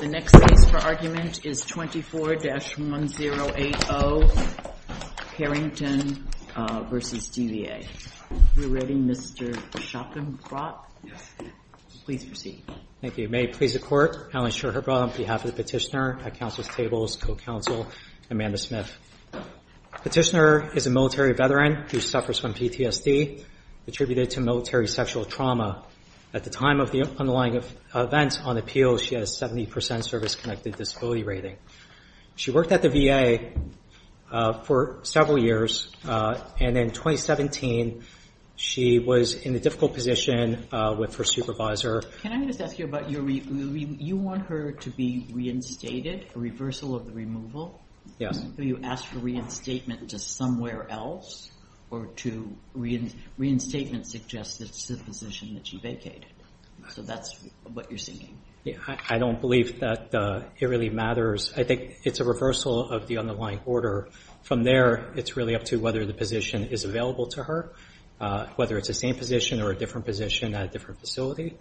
The next case for argument is 24-1080 Karingten v. DVA. Are we ready, Mr. Schopenbrock? Yes. Please proceed. Thank you. May it please the Court, Alan Schopenbrock on behalf of the Petitioner at Council's Tables, co-counsel Amanda Smith. Petitioner is a military veteran who suffers from PTSD attributed to military sexual trauma. At the time of the underlying events on appeal, she has a 70% service-connected disability rating. She worked at the VA for several years, and in 2017 she was in a difficult position with her supervisor. Can I just ask you about your removal? You want her to be reinstated, a reversal of the removal? Yes. Do you ask for reinstatement to somewhere else, or does reinstatement suggest that it's the position that she vacated? So that's what you're seeking? I don't believe that it really matters. I think it's a reversal of the underlying order. From there, it's really up to whether the position is available to her, whether it's the same position or a different position at a different facility.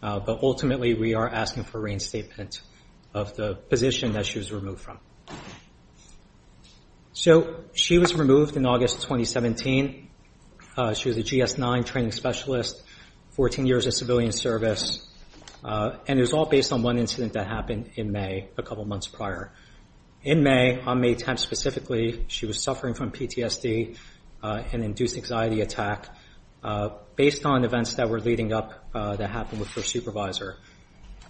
But ultimately we are asking for reinstatement of the position that she was removed from. So she was removed in August 2017. She was a GS-9 training specialist, 14 years of civilian service, and it was all based on one incident that happened in May, a couple months prior. In May, on May 10th specifically, she was suffering from PTSD, an induced anxiety attack, based on events that were leading up that happened with her supervisor.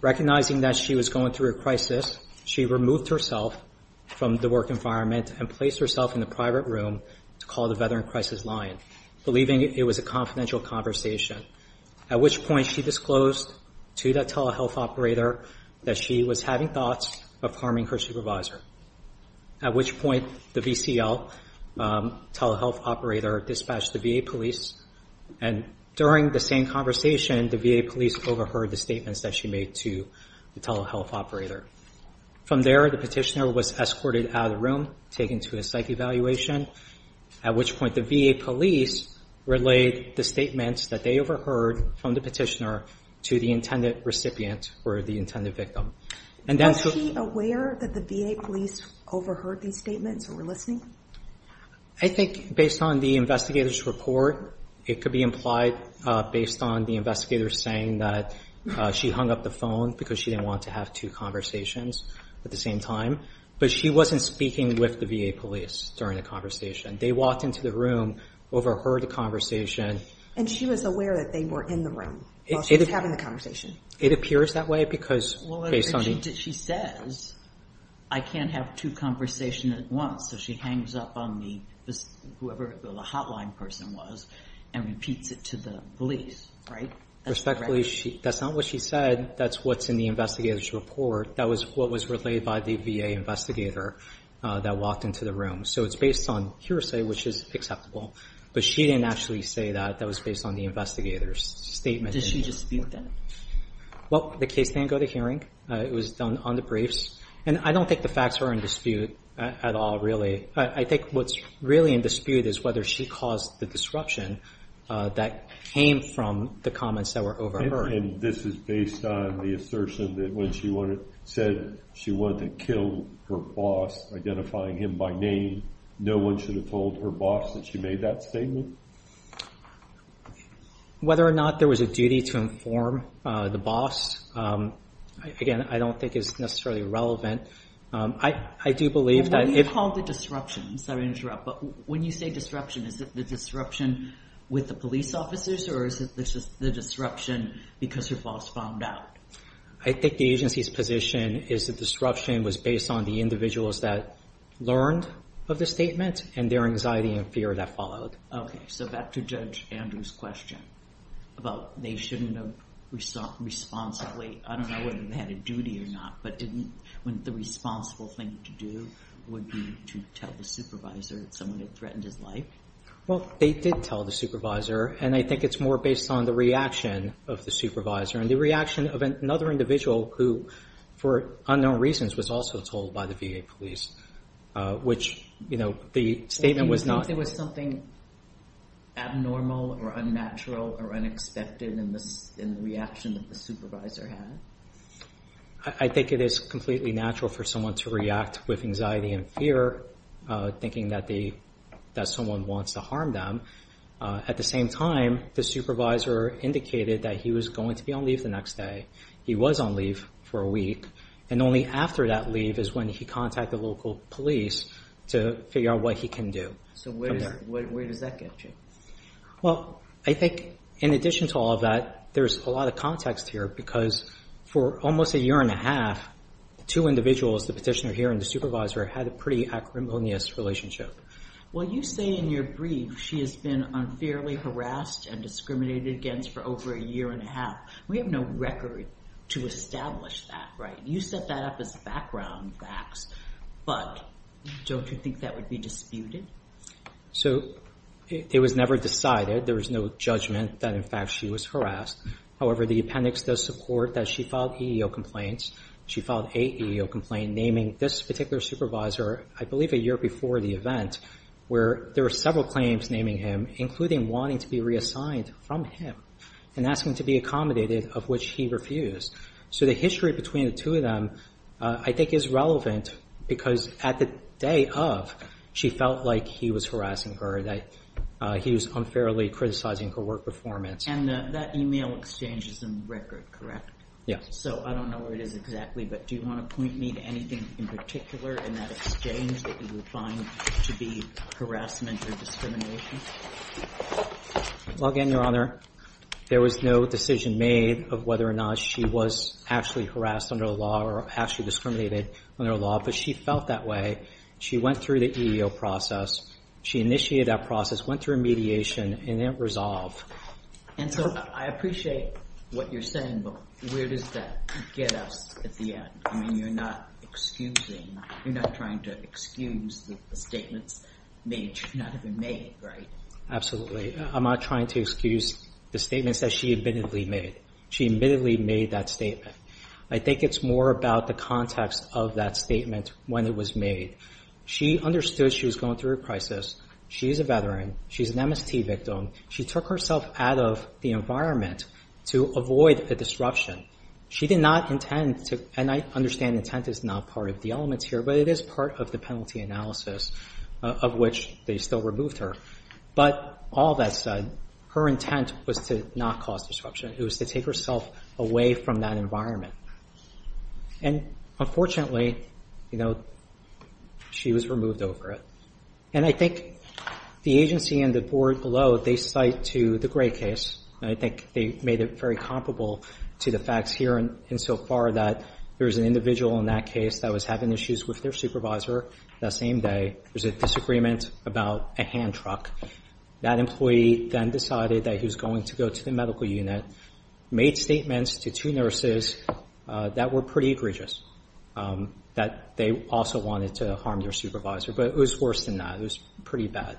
Recognizing that she was going through a crisis, she removed herself from the work environment and placed herself in a private room to call the Veteran Crisis Line, believing it was a confidential conversation, at which point she disclosed to that telehealth operator that she was having thoughts of harming her supervisor, at which point the VCL telehealth operator dispatched the VA police, and during the same conversation the VA police overheard the statements that she made to the telehealth operator. From there, the petitioner was escorted out of the room, taken to a psych evaluation, at which point the VA police relayed the statements that they overheard from the petitioner to the intended recipient or the intended victim. Was she aware that the VA police overheard these statements or were listening? I think based on the investigator's report, it could be implied based on the investigator saying that she hung up the phone because she didn't want to have two conversations at the same time, but she wasn't speaking with the VA police during the conversation. They walked into the room, overheard the conversation. And she was aware that they were in the room while she was having the conversation? It appears that way because based on the— She says, I can't have two conversations at once, so she hangs up on whoever the hotline person was and repeats it to the police, right? Respectfully, that's not what she said. That's what's in the investigator's report. That was what was relayed by the VA investigator that walked into the room. So it's based on hearsay, which is acceptable. But she didn't actually say that. That was based on the investigator's statement. Did she dispute that? Well, the case didn't go to hearing. It was done on the briefs. And I don't think the facts are in dispute at all, really. I think what's really in dispute is whether she caused the disruption that came from the comments that were overheard. And this is based on the assertion that when she said she wanted to kill her boss, identifying him by name, no one should have told her boss that she made that statement? Whether or not there was a duty to inform the boss, again, I don't think is necessarily relevant. I do believe that if— When you call it a disruption, I'm sorry to interrupt, but when you say disruption, is it the disruption with the police officers or is it the disruption because her boss found out? I think the agency's position is the disruption was based on the individuals that learned of the statement and their anxiety and fear that followed. Okay, so back to Judge Andrew's question about they shouldn't have responsibly— I don't know whether they had a duty or not, but didn't the responsible thing to do would be to tell the supervisor that someone had threatened his life? Well, they did tell the supervisor, and I think it's more based on the reaction of the supervisor and the reaction of another individual who, for unknown reasons, was also told by the VA police, which the statement was not— Do you think there was something abnormal or unnatural or unexpected in the reaction that the supervisor had? I think it is completely natural for someone to react with anxiety and fear, thinking that someone wants to harm them. At the same time, the supervisor indicated that he was going to be on leave the next day. He was on leave for a week, and only after that leave is when he contacted local police to figure out what he can do. So where does that get you? Well, I think in addition to all of that, there's a lot of context here because for almost a year and a half, two individuals, the petitioner here and the supervisor, had a pretty acrimonious relationship. Well, you say in your brief she has been unfairly harassed and discriminated against for over a year and a half. We have no record to establish that, right? You set that up as background facts, but don't you think that would be disputed? So it was never decided. There was no judgment that, in fact, she was harassed. However, the appendix does support that she filed EEO complaints. She filed a EEO complaint naming this particular supervisor, I believe a year before the event, where there were several claims naming him, including wanting to be reassigned from him and asking to be accommodated, of which he refused. So the history between the two of them I think is relevant because at the day of, she felt like he was harassing her, that he was unfairly criticizing her work performance. And that email exchange is in record, correct? Yes. So I don't know where it is exactly, but do you want to point me to anything in particular in that exchange that you would find to be harassment or discrimination? Well, again, Your Honor, there was no decision made of whether or not she was actually harassed under the law or actually discriminated under the law, but she felt that way. She went through the EEO process. She initiated that process, went through a mediation, and then it resolved. And so I appreciate what you're saying, but where does that get us at the end? I mean, you're not excusing, you're not trying to excuse the statements made should not have been made, right? Absolutely. I'm not trying to excuse the statements that she admittedly made. She admittedly made that statement. I think it's more about the context of that statement when it was made. She understood she was going through a crisis. She's a veteran. She's an MST victim. She took herself out of the environment to avoid a disruption. She did not intend to, and I understand intent is not part of the elements here, but it is part of the penalty analysis of which they still removed her. But all that said, her intent was to not cause disruption. It was to take herself away from that environment. And unfortunately, you know, she was removed over it. And I think the agency and the board below, they cite to the Gray case, and I think they made it very comparable to the facts here and so far that there's an individual in that case that was having issues with their supervisor that same day. There's a disagreement about a hand truck. That employee then decided that he was going to go to the medical unit, made statements to two nurses that were pretty egregious, that they also wanted to harm their supervisor. But it was worse than that. It was pretty bad.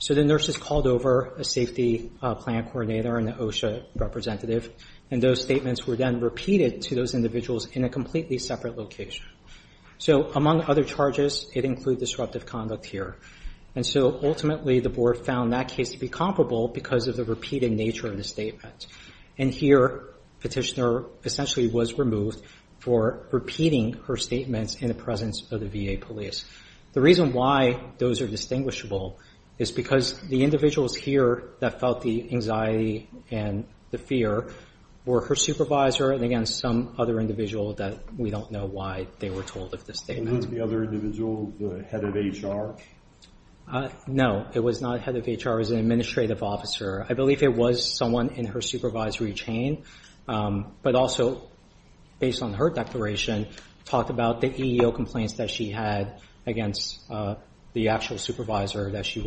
So the nurses called over a safety plan coordinator and an OSHA representative, and those statements were then repeated to those individuals in a completely separate location. So among other charges, it included disruptive conduct here. And so ultimately the board found that case to be comparable because of the repeated nature of the statement. And here Petitioner essentially was removed for repeating her statements in the presence of the VA police. The reason why those are distinguishable is because the individuals here that felt the anxiety and the fear were her supervisor and, again, some other individual that we don't know why they were told of the statement. Was it the other individual, the head of HR? No, it was not head of HR. It was an administrative officer. I believe it was someone in her supervisory chain, but also based on her declaration talked about the EEO complaints that she had against the actual supervisor that she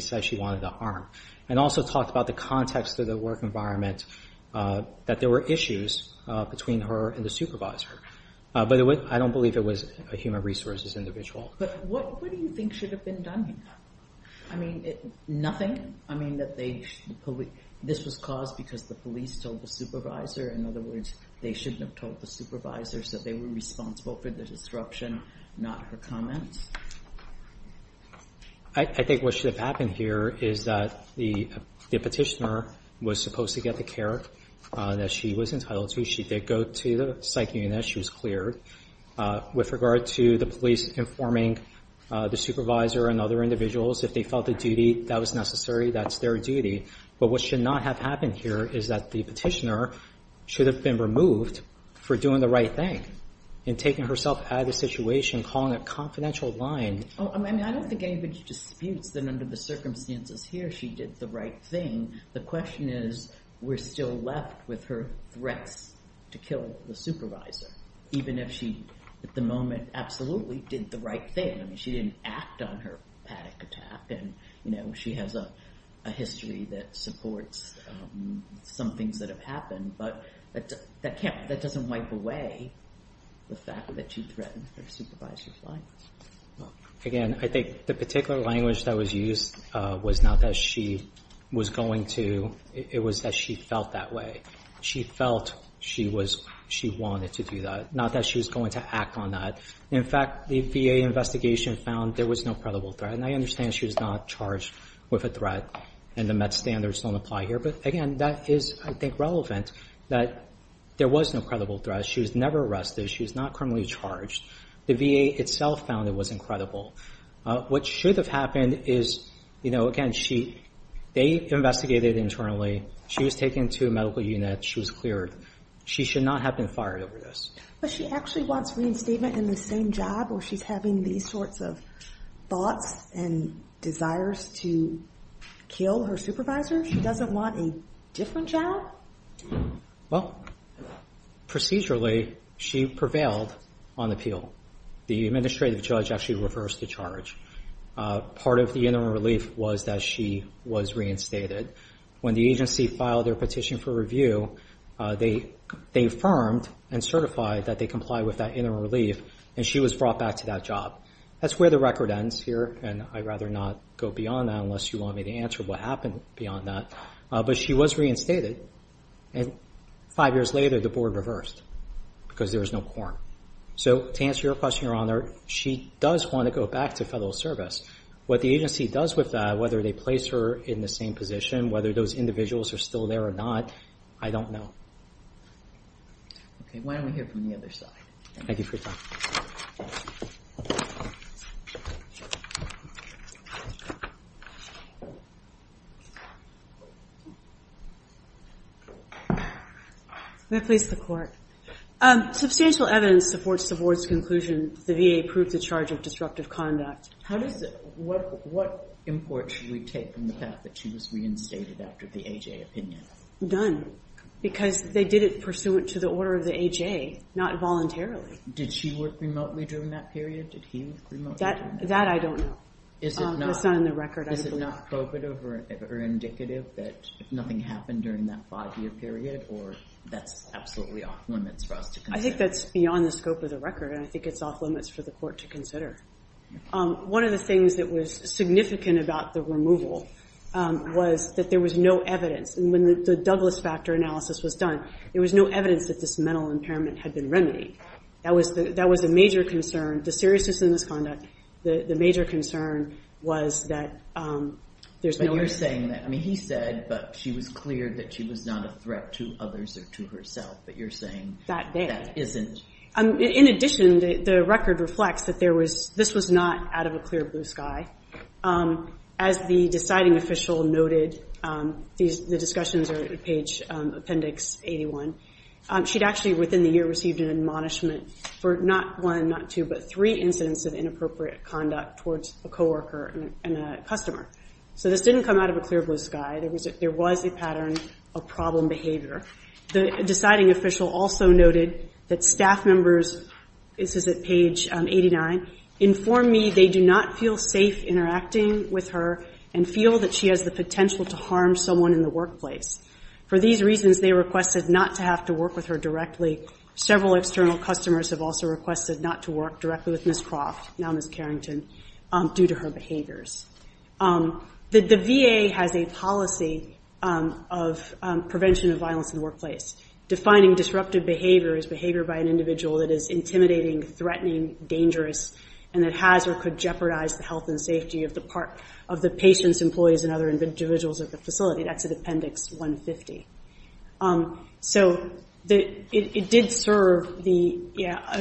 said she wanted to harm. And also talked about the context of the work environment, that there were issues between her and the supervisor. But I don't believe it was a human resources individual. But what do you think should have been done here? I mean, nothing? I mean, this was caused because the police told the supervisor. In other words, they shouldn't have told the supervisor, so they were responsible for the disruption, not her comments? I think what should have happened here is that the Petitioner was supposed to get the care that she was entitled to. She did go to the psych unit. She was cleared. With regard to the police informing the supervisor and other individuals, if they felt a duty that was necessary, that's their duty. But what should not have happened here is that the Petitioner should have been removed for doing the right thing and taking herself out of the situation, calling a confidential line. I mean, I don't think anybody disputes that under the circumstances here, she did the right thing. The question is, we're still left with her threats to kill the supervisor, even if she, at the moment, absolutely did the right thing. I mean, she didn't act on her panic attack. She has a history that supports some things that have happened, but that doesn't wipe away the fact that she threatened her supervisor's life. Again, I think the particular language that was used was not that she was going to. It was that she felt that way. She felt she wanted to do that, not that she was going to act on that. In fact, the VA investigation found there was no credible threat, and I understand she was not charged with a threat, and the met standards don't apply here. But, again, that is, I think, relevant, that there was no credible threat. She was never arrested. She was not criminally charged. The VA itself found it was incredible. What should have happened is, you know, again, they investigated internally. She was taken to a medical unit. She was cleared. She should not have been fired over this. But she actually wants reinstatement in the same job, or she's having these sorts of thoughts and desires to kill her supervisor? She doesn't want a different job? Well, procedurally, she prevailed on appeal. The administrative judge actually reversed the charge. Part of the interim relief was that she was reinstated. When the agency filed their petition for review, they affirmed and certified that they complied with that interim relief, and she was brought back to that job. That's where the record ends here, and I'd rather not go beyond that unless you want me to answer what happened beyond that. But she was reinstated, and five years later the board reversed because there was no quorum. So to answer your question, Your Honor, she does want to go back to federal service. What the agency does with that, whether they place her in the same position, whether those individuals are still there or not, I don't know. Okay, why don't we hear from the other side? Thank you for your time. May I please have the court? Substantial evidence supports the board's conclusion that the VA approved the charge of disruptive conduct. What import should we take from the fact that she was reinstated after the AJ opinion? None, because they did it pursuant to the order of the AJ, not voluntarily. Did she work remotely during that period? Did he work remotely during that period? That I don't know. That's not in the record. Is it not indicative that nothing happened during that five-year period, or that's absolutely off limits for us to consider? I think that's beyond the scope of the record, and I think it's off limits for the court to consider. One of the things that was significant about the removal was that there was no evidence. When the Douglas factor analysis was done, there was no evidence that this mental impairment had been remedied. That was a major concern. The seriousness in this conduct, the major concern was that there's no evidence. You're saying that. He said that she was clear that she was not a threat to others or to herself, but you're saying that isn't. In addition, the record reflects that this was not out of a clear blue sky. As the deciding official noted, the discussions are at page appendix 81, she'd actually within the year received an admonishment for not one, not two, but three incidents of inappropriate conduct towards a coworker and a customer. So this didn't come out of a clear blue sky. There was a pattern of problem behavior. The deciding official also noted that staff members, this is at page 89, inform me they do not feel safe interacting with her and feel that she has the potential to harm someone in the workplace. For these reasons, they requested not to have to work with her directly. Several external customers have also requested not to work directly with Ms. Croft, now Ms. Carrington, due to her behaviors. The VA has a policy of prevention of violence in the workplace. Defining disruptive behavior is behavior by an individual that is intimidating, threatening, dangerous, and that has or could jeopardize the health and safety of the patients, employees, and other individuals at the facility. That's at appendix 150. So it did serve the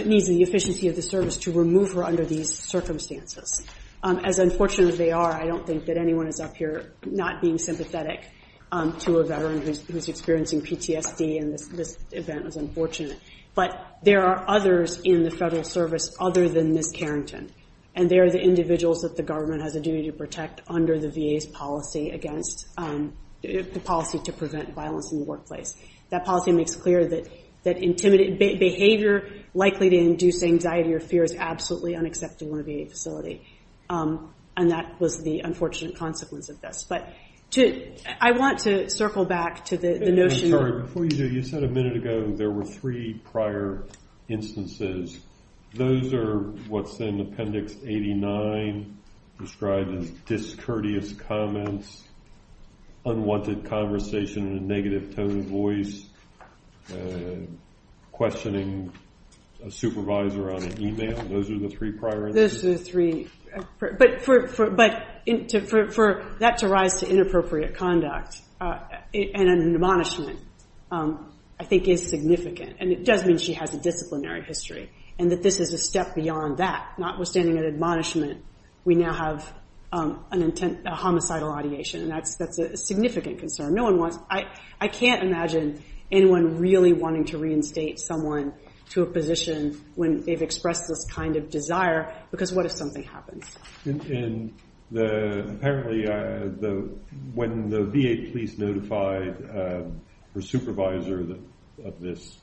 needs and the efficiency of the service to remove her under these circumstances. As unfortunate as they are, I don't think that anyone is up here not being sympathetic to a veteran who is experiencing PTSD, and this event was unfortunate. But there are others in the federal service other than Ms. Carrington, and they are the individuals that the government has a duty to protect under the VA's policy to prevent violence in the workplace. That policy makes clear that behavior likely to induce anxiety or fear is absolutely unacceptable in a VA facility, and that was the unfortunate consequence of this. But I want to circle back to the notion that... Sorry, before you do, you said a minute ago there were three prior instances. Those are what's in appendix 89, described as discourteous comments, unwanted conversation in a negative tone of voice, questioning a supervisor on an email. Those are the three prior instances? Those are the three. But for that to rise to inappropriate conduct and an admonishment I think is significant, and it does mean she has a disciplinary history and that this is a step beyond that. Notwithstanding an admonishment, we now have a homicidal ideation, and that's a significant concern. I can't imagine anyone really wanting to reinstate someone to a position when they've expressed this kind of desire, because what if something happens? And apparently when the VA police notified her supervisor of this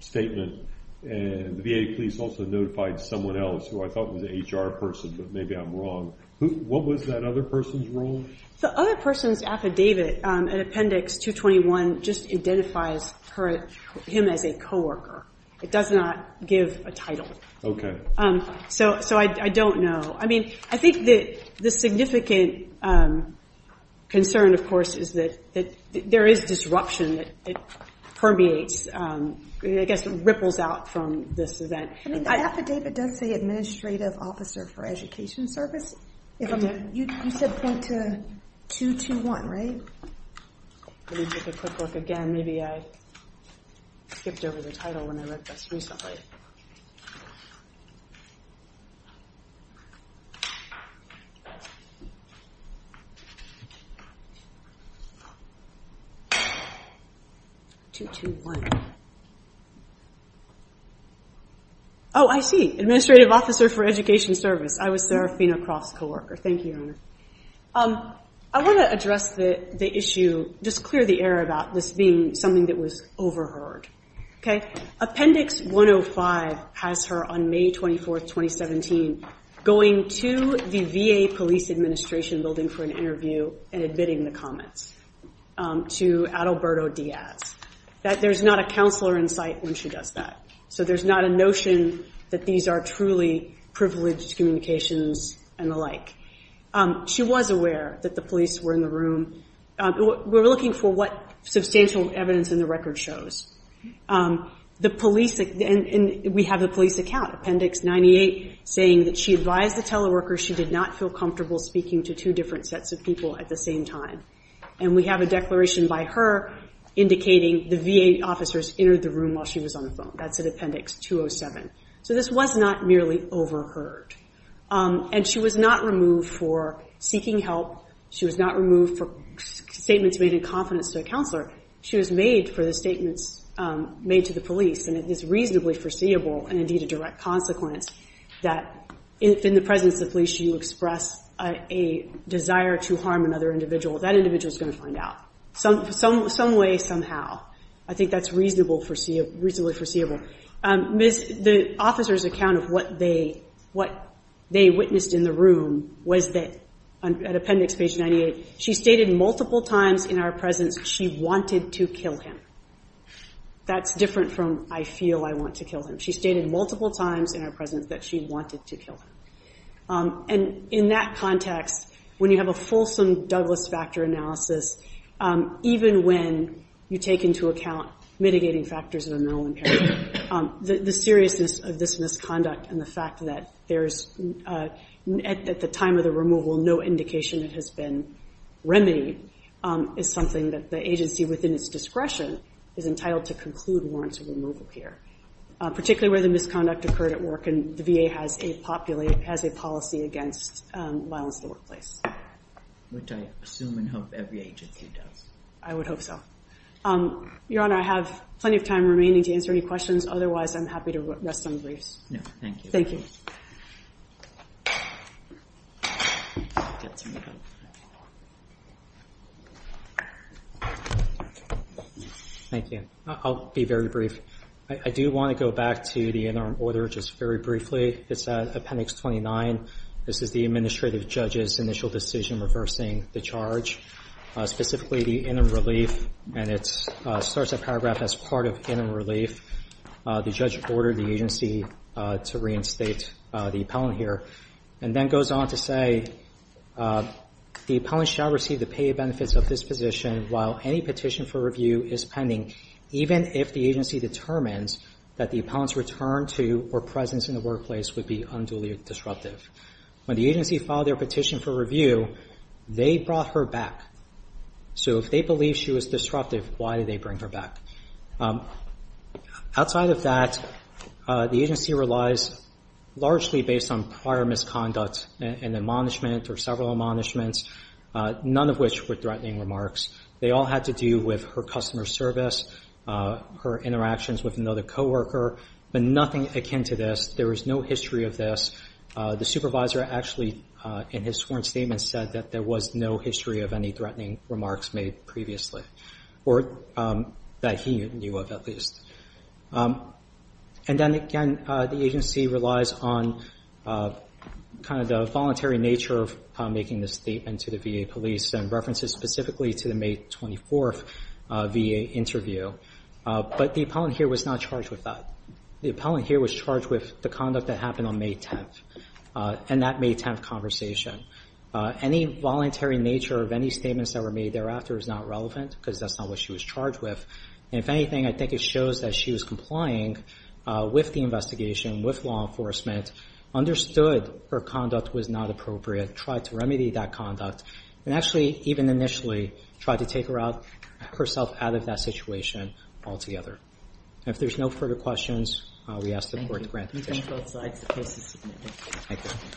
statement, the VA police also notified someone else who I thought was an HR person, but maybe I'm wrong. What was that other person's role? The other person's affidavit in appendix 221 just identifies him as a coworker. It does not give a title. So I don't know. I think the significant concern, of course, is that there is disruption that permeates, I guess ripples out from this event. The affidavit does say administrative officer for education service. You said point to 221, right? Let me take a quick look again. Maybe I skipped over the title when I read this recently. 221. Oh, I see. Administrative officer for education service. I was Serafina Croft's coworker. Thank you, Your Honor. I want to address the issue, just clear the air about this being something that was overheard. Appendix 105 has her on May 24, 2017, going to the VA police administration building for an interview and admitting the comments to Alberto Diaz, that there's not a counselor in sight when she does that. So there's not a notion that these are truly privileged communications and the like. She was aware that the police were in the room. We're looking for what substantial evidence in the record shows. The police, and we have the police account, Appendix 98, saying that she advised the teleworker she did not feel comfortable speaking to two different sets of people at the same time. And we have a declaration by her indicating the VA officers entered the room while she was on the phone. That's in Appendix 207. So this was not merely overheard. And she was not removed for seeking help. She was not removed for statements made in confidence to a counselor. She was made for the statements made to the police. And it is reasonably foreseeable, and indeed a direct consequence, that if in the presence of the police you express a desire to harm another individual, that individual is going to find out. Some way, somehow. I think that's reasonably foreseeable. The officers' account of what they witnessed in the room was that, at Appendix 98, she stated multiple times in our presence she wanted to kill him. That's different from, I feel I want to kill him. She stated multiple times in our presence that she wanted to kill him. And in that context, when you have a fulsome Douglas factor analysis, even when you take into account mitigating factors of a mental impairment, the seriousness of this misconduct and the fact that there's at the time of the removal no indication it has been remedied is something that the agency, within its discretion, is entitled to conclude warrants of removal here, particularly where the misconduct occurred at work and the VA has a policy against violence in the workplace. Which I assume and hope every agency does. I would hope so. Your Honor, I have plenty of time remaining to answer any questions. Otherwise, I'm happy to rest some briefs. No, thank you. Thank you. Thank you. I'll be very brief. I do want to go back to the interim order just very briefly. It's Appendix 29. This is the administrative judge's initial decision reversing the charge, specifically the interim relief, and it starts that paragraph as part of interim relief. The judge ordered the agency to reinstate the appellant here and then goes on to say the appellant shall receive the paid benefits of this position while any petition for review is pending, even if the agency determines that the appellant's return to or presence in the workplace would be unduly disruptive. When the agency filed their petition for review, they brought her back. So if they believe she was disruptive, why did they bring her back? Outside of that, the agency relies largely based on prior misconduct and admonishment or several admonishments, none of which were threatening remarks. They all had to do with her customer service, her interactions with another co-worker, but nothing akin to this. There was no history of this. The supervisor actually, in his sworn statement, said that there was no history of any threatening remarks made previously, or that he knew of at least. And then again, the agency relies on kind of the voluntary nature of making this statement to the VA police and references specifically to the May 24th VA interview. But the appellant here was not charged with that. The appellant here was charged with the conduct that happened on May 10th and that May 10th conversation. Any voluntary nature of any statements that were made thereafter is not relevant because that's not what she was charged with. And if anything, I think it shows that she was complying with the investigation, with law enforcement, understood her conduct was not appropriate, tried to remedy that conduct, and actually even initially tried to take herself out of that situation altogether. And if there's no further questions, we ask the Court to grant the petition. Thank you.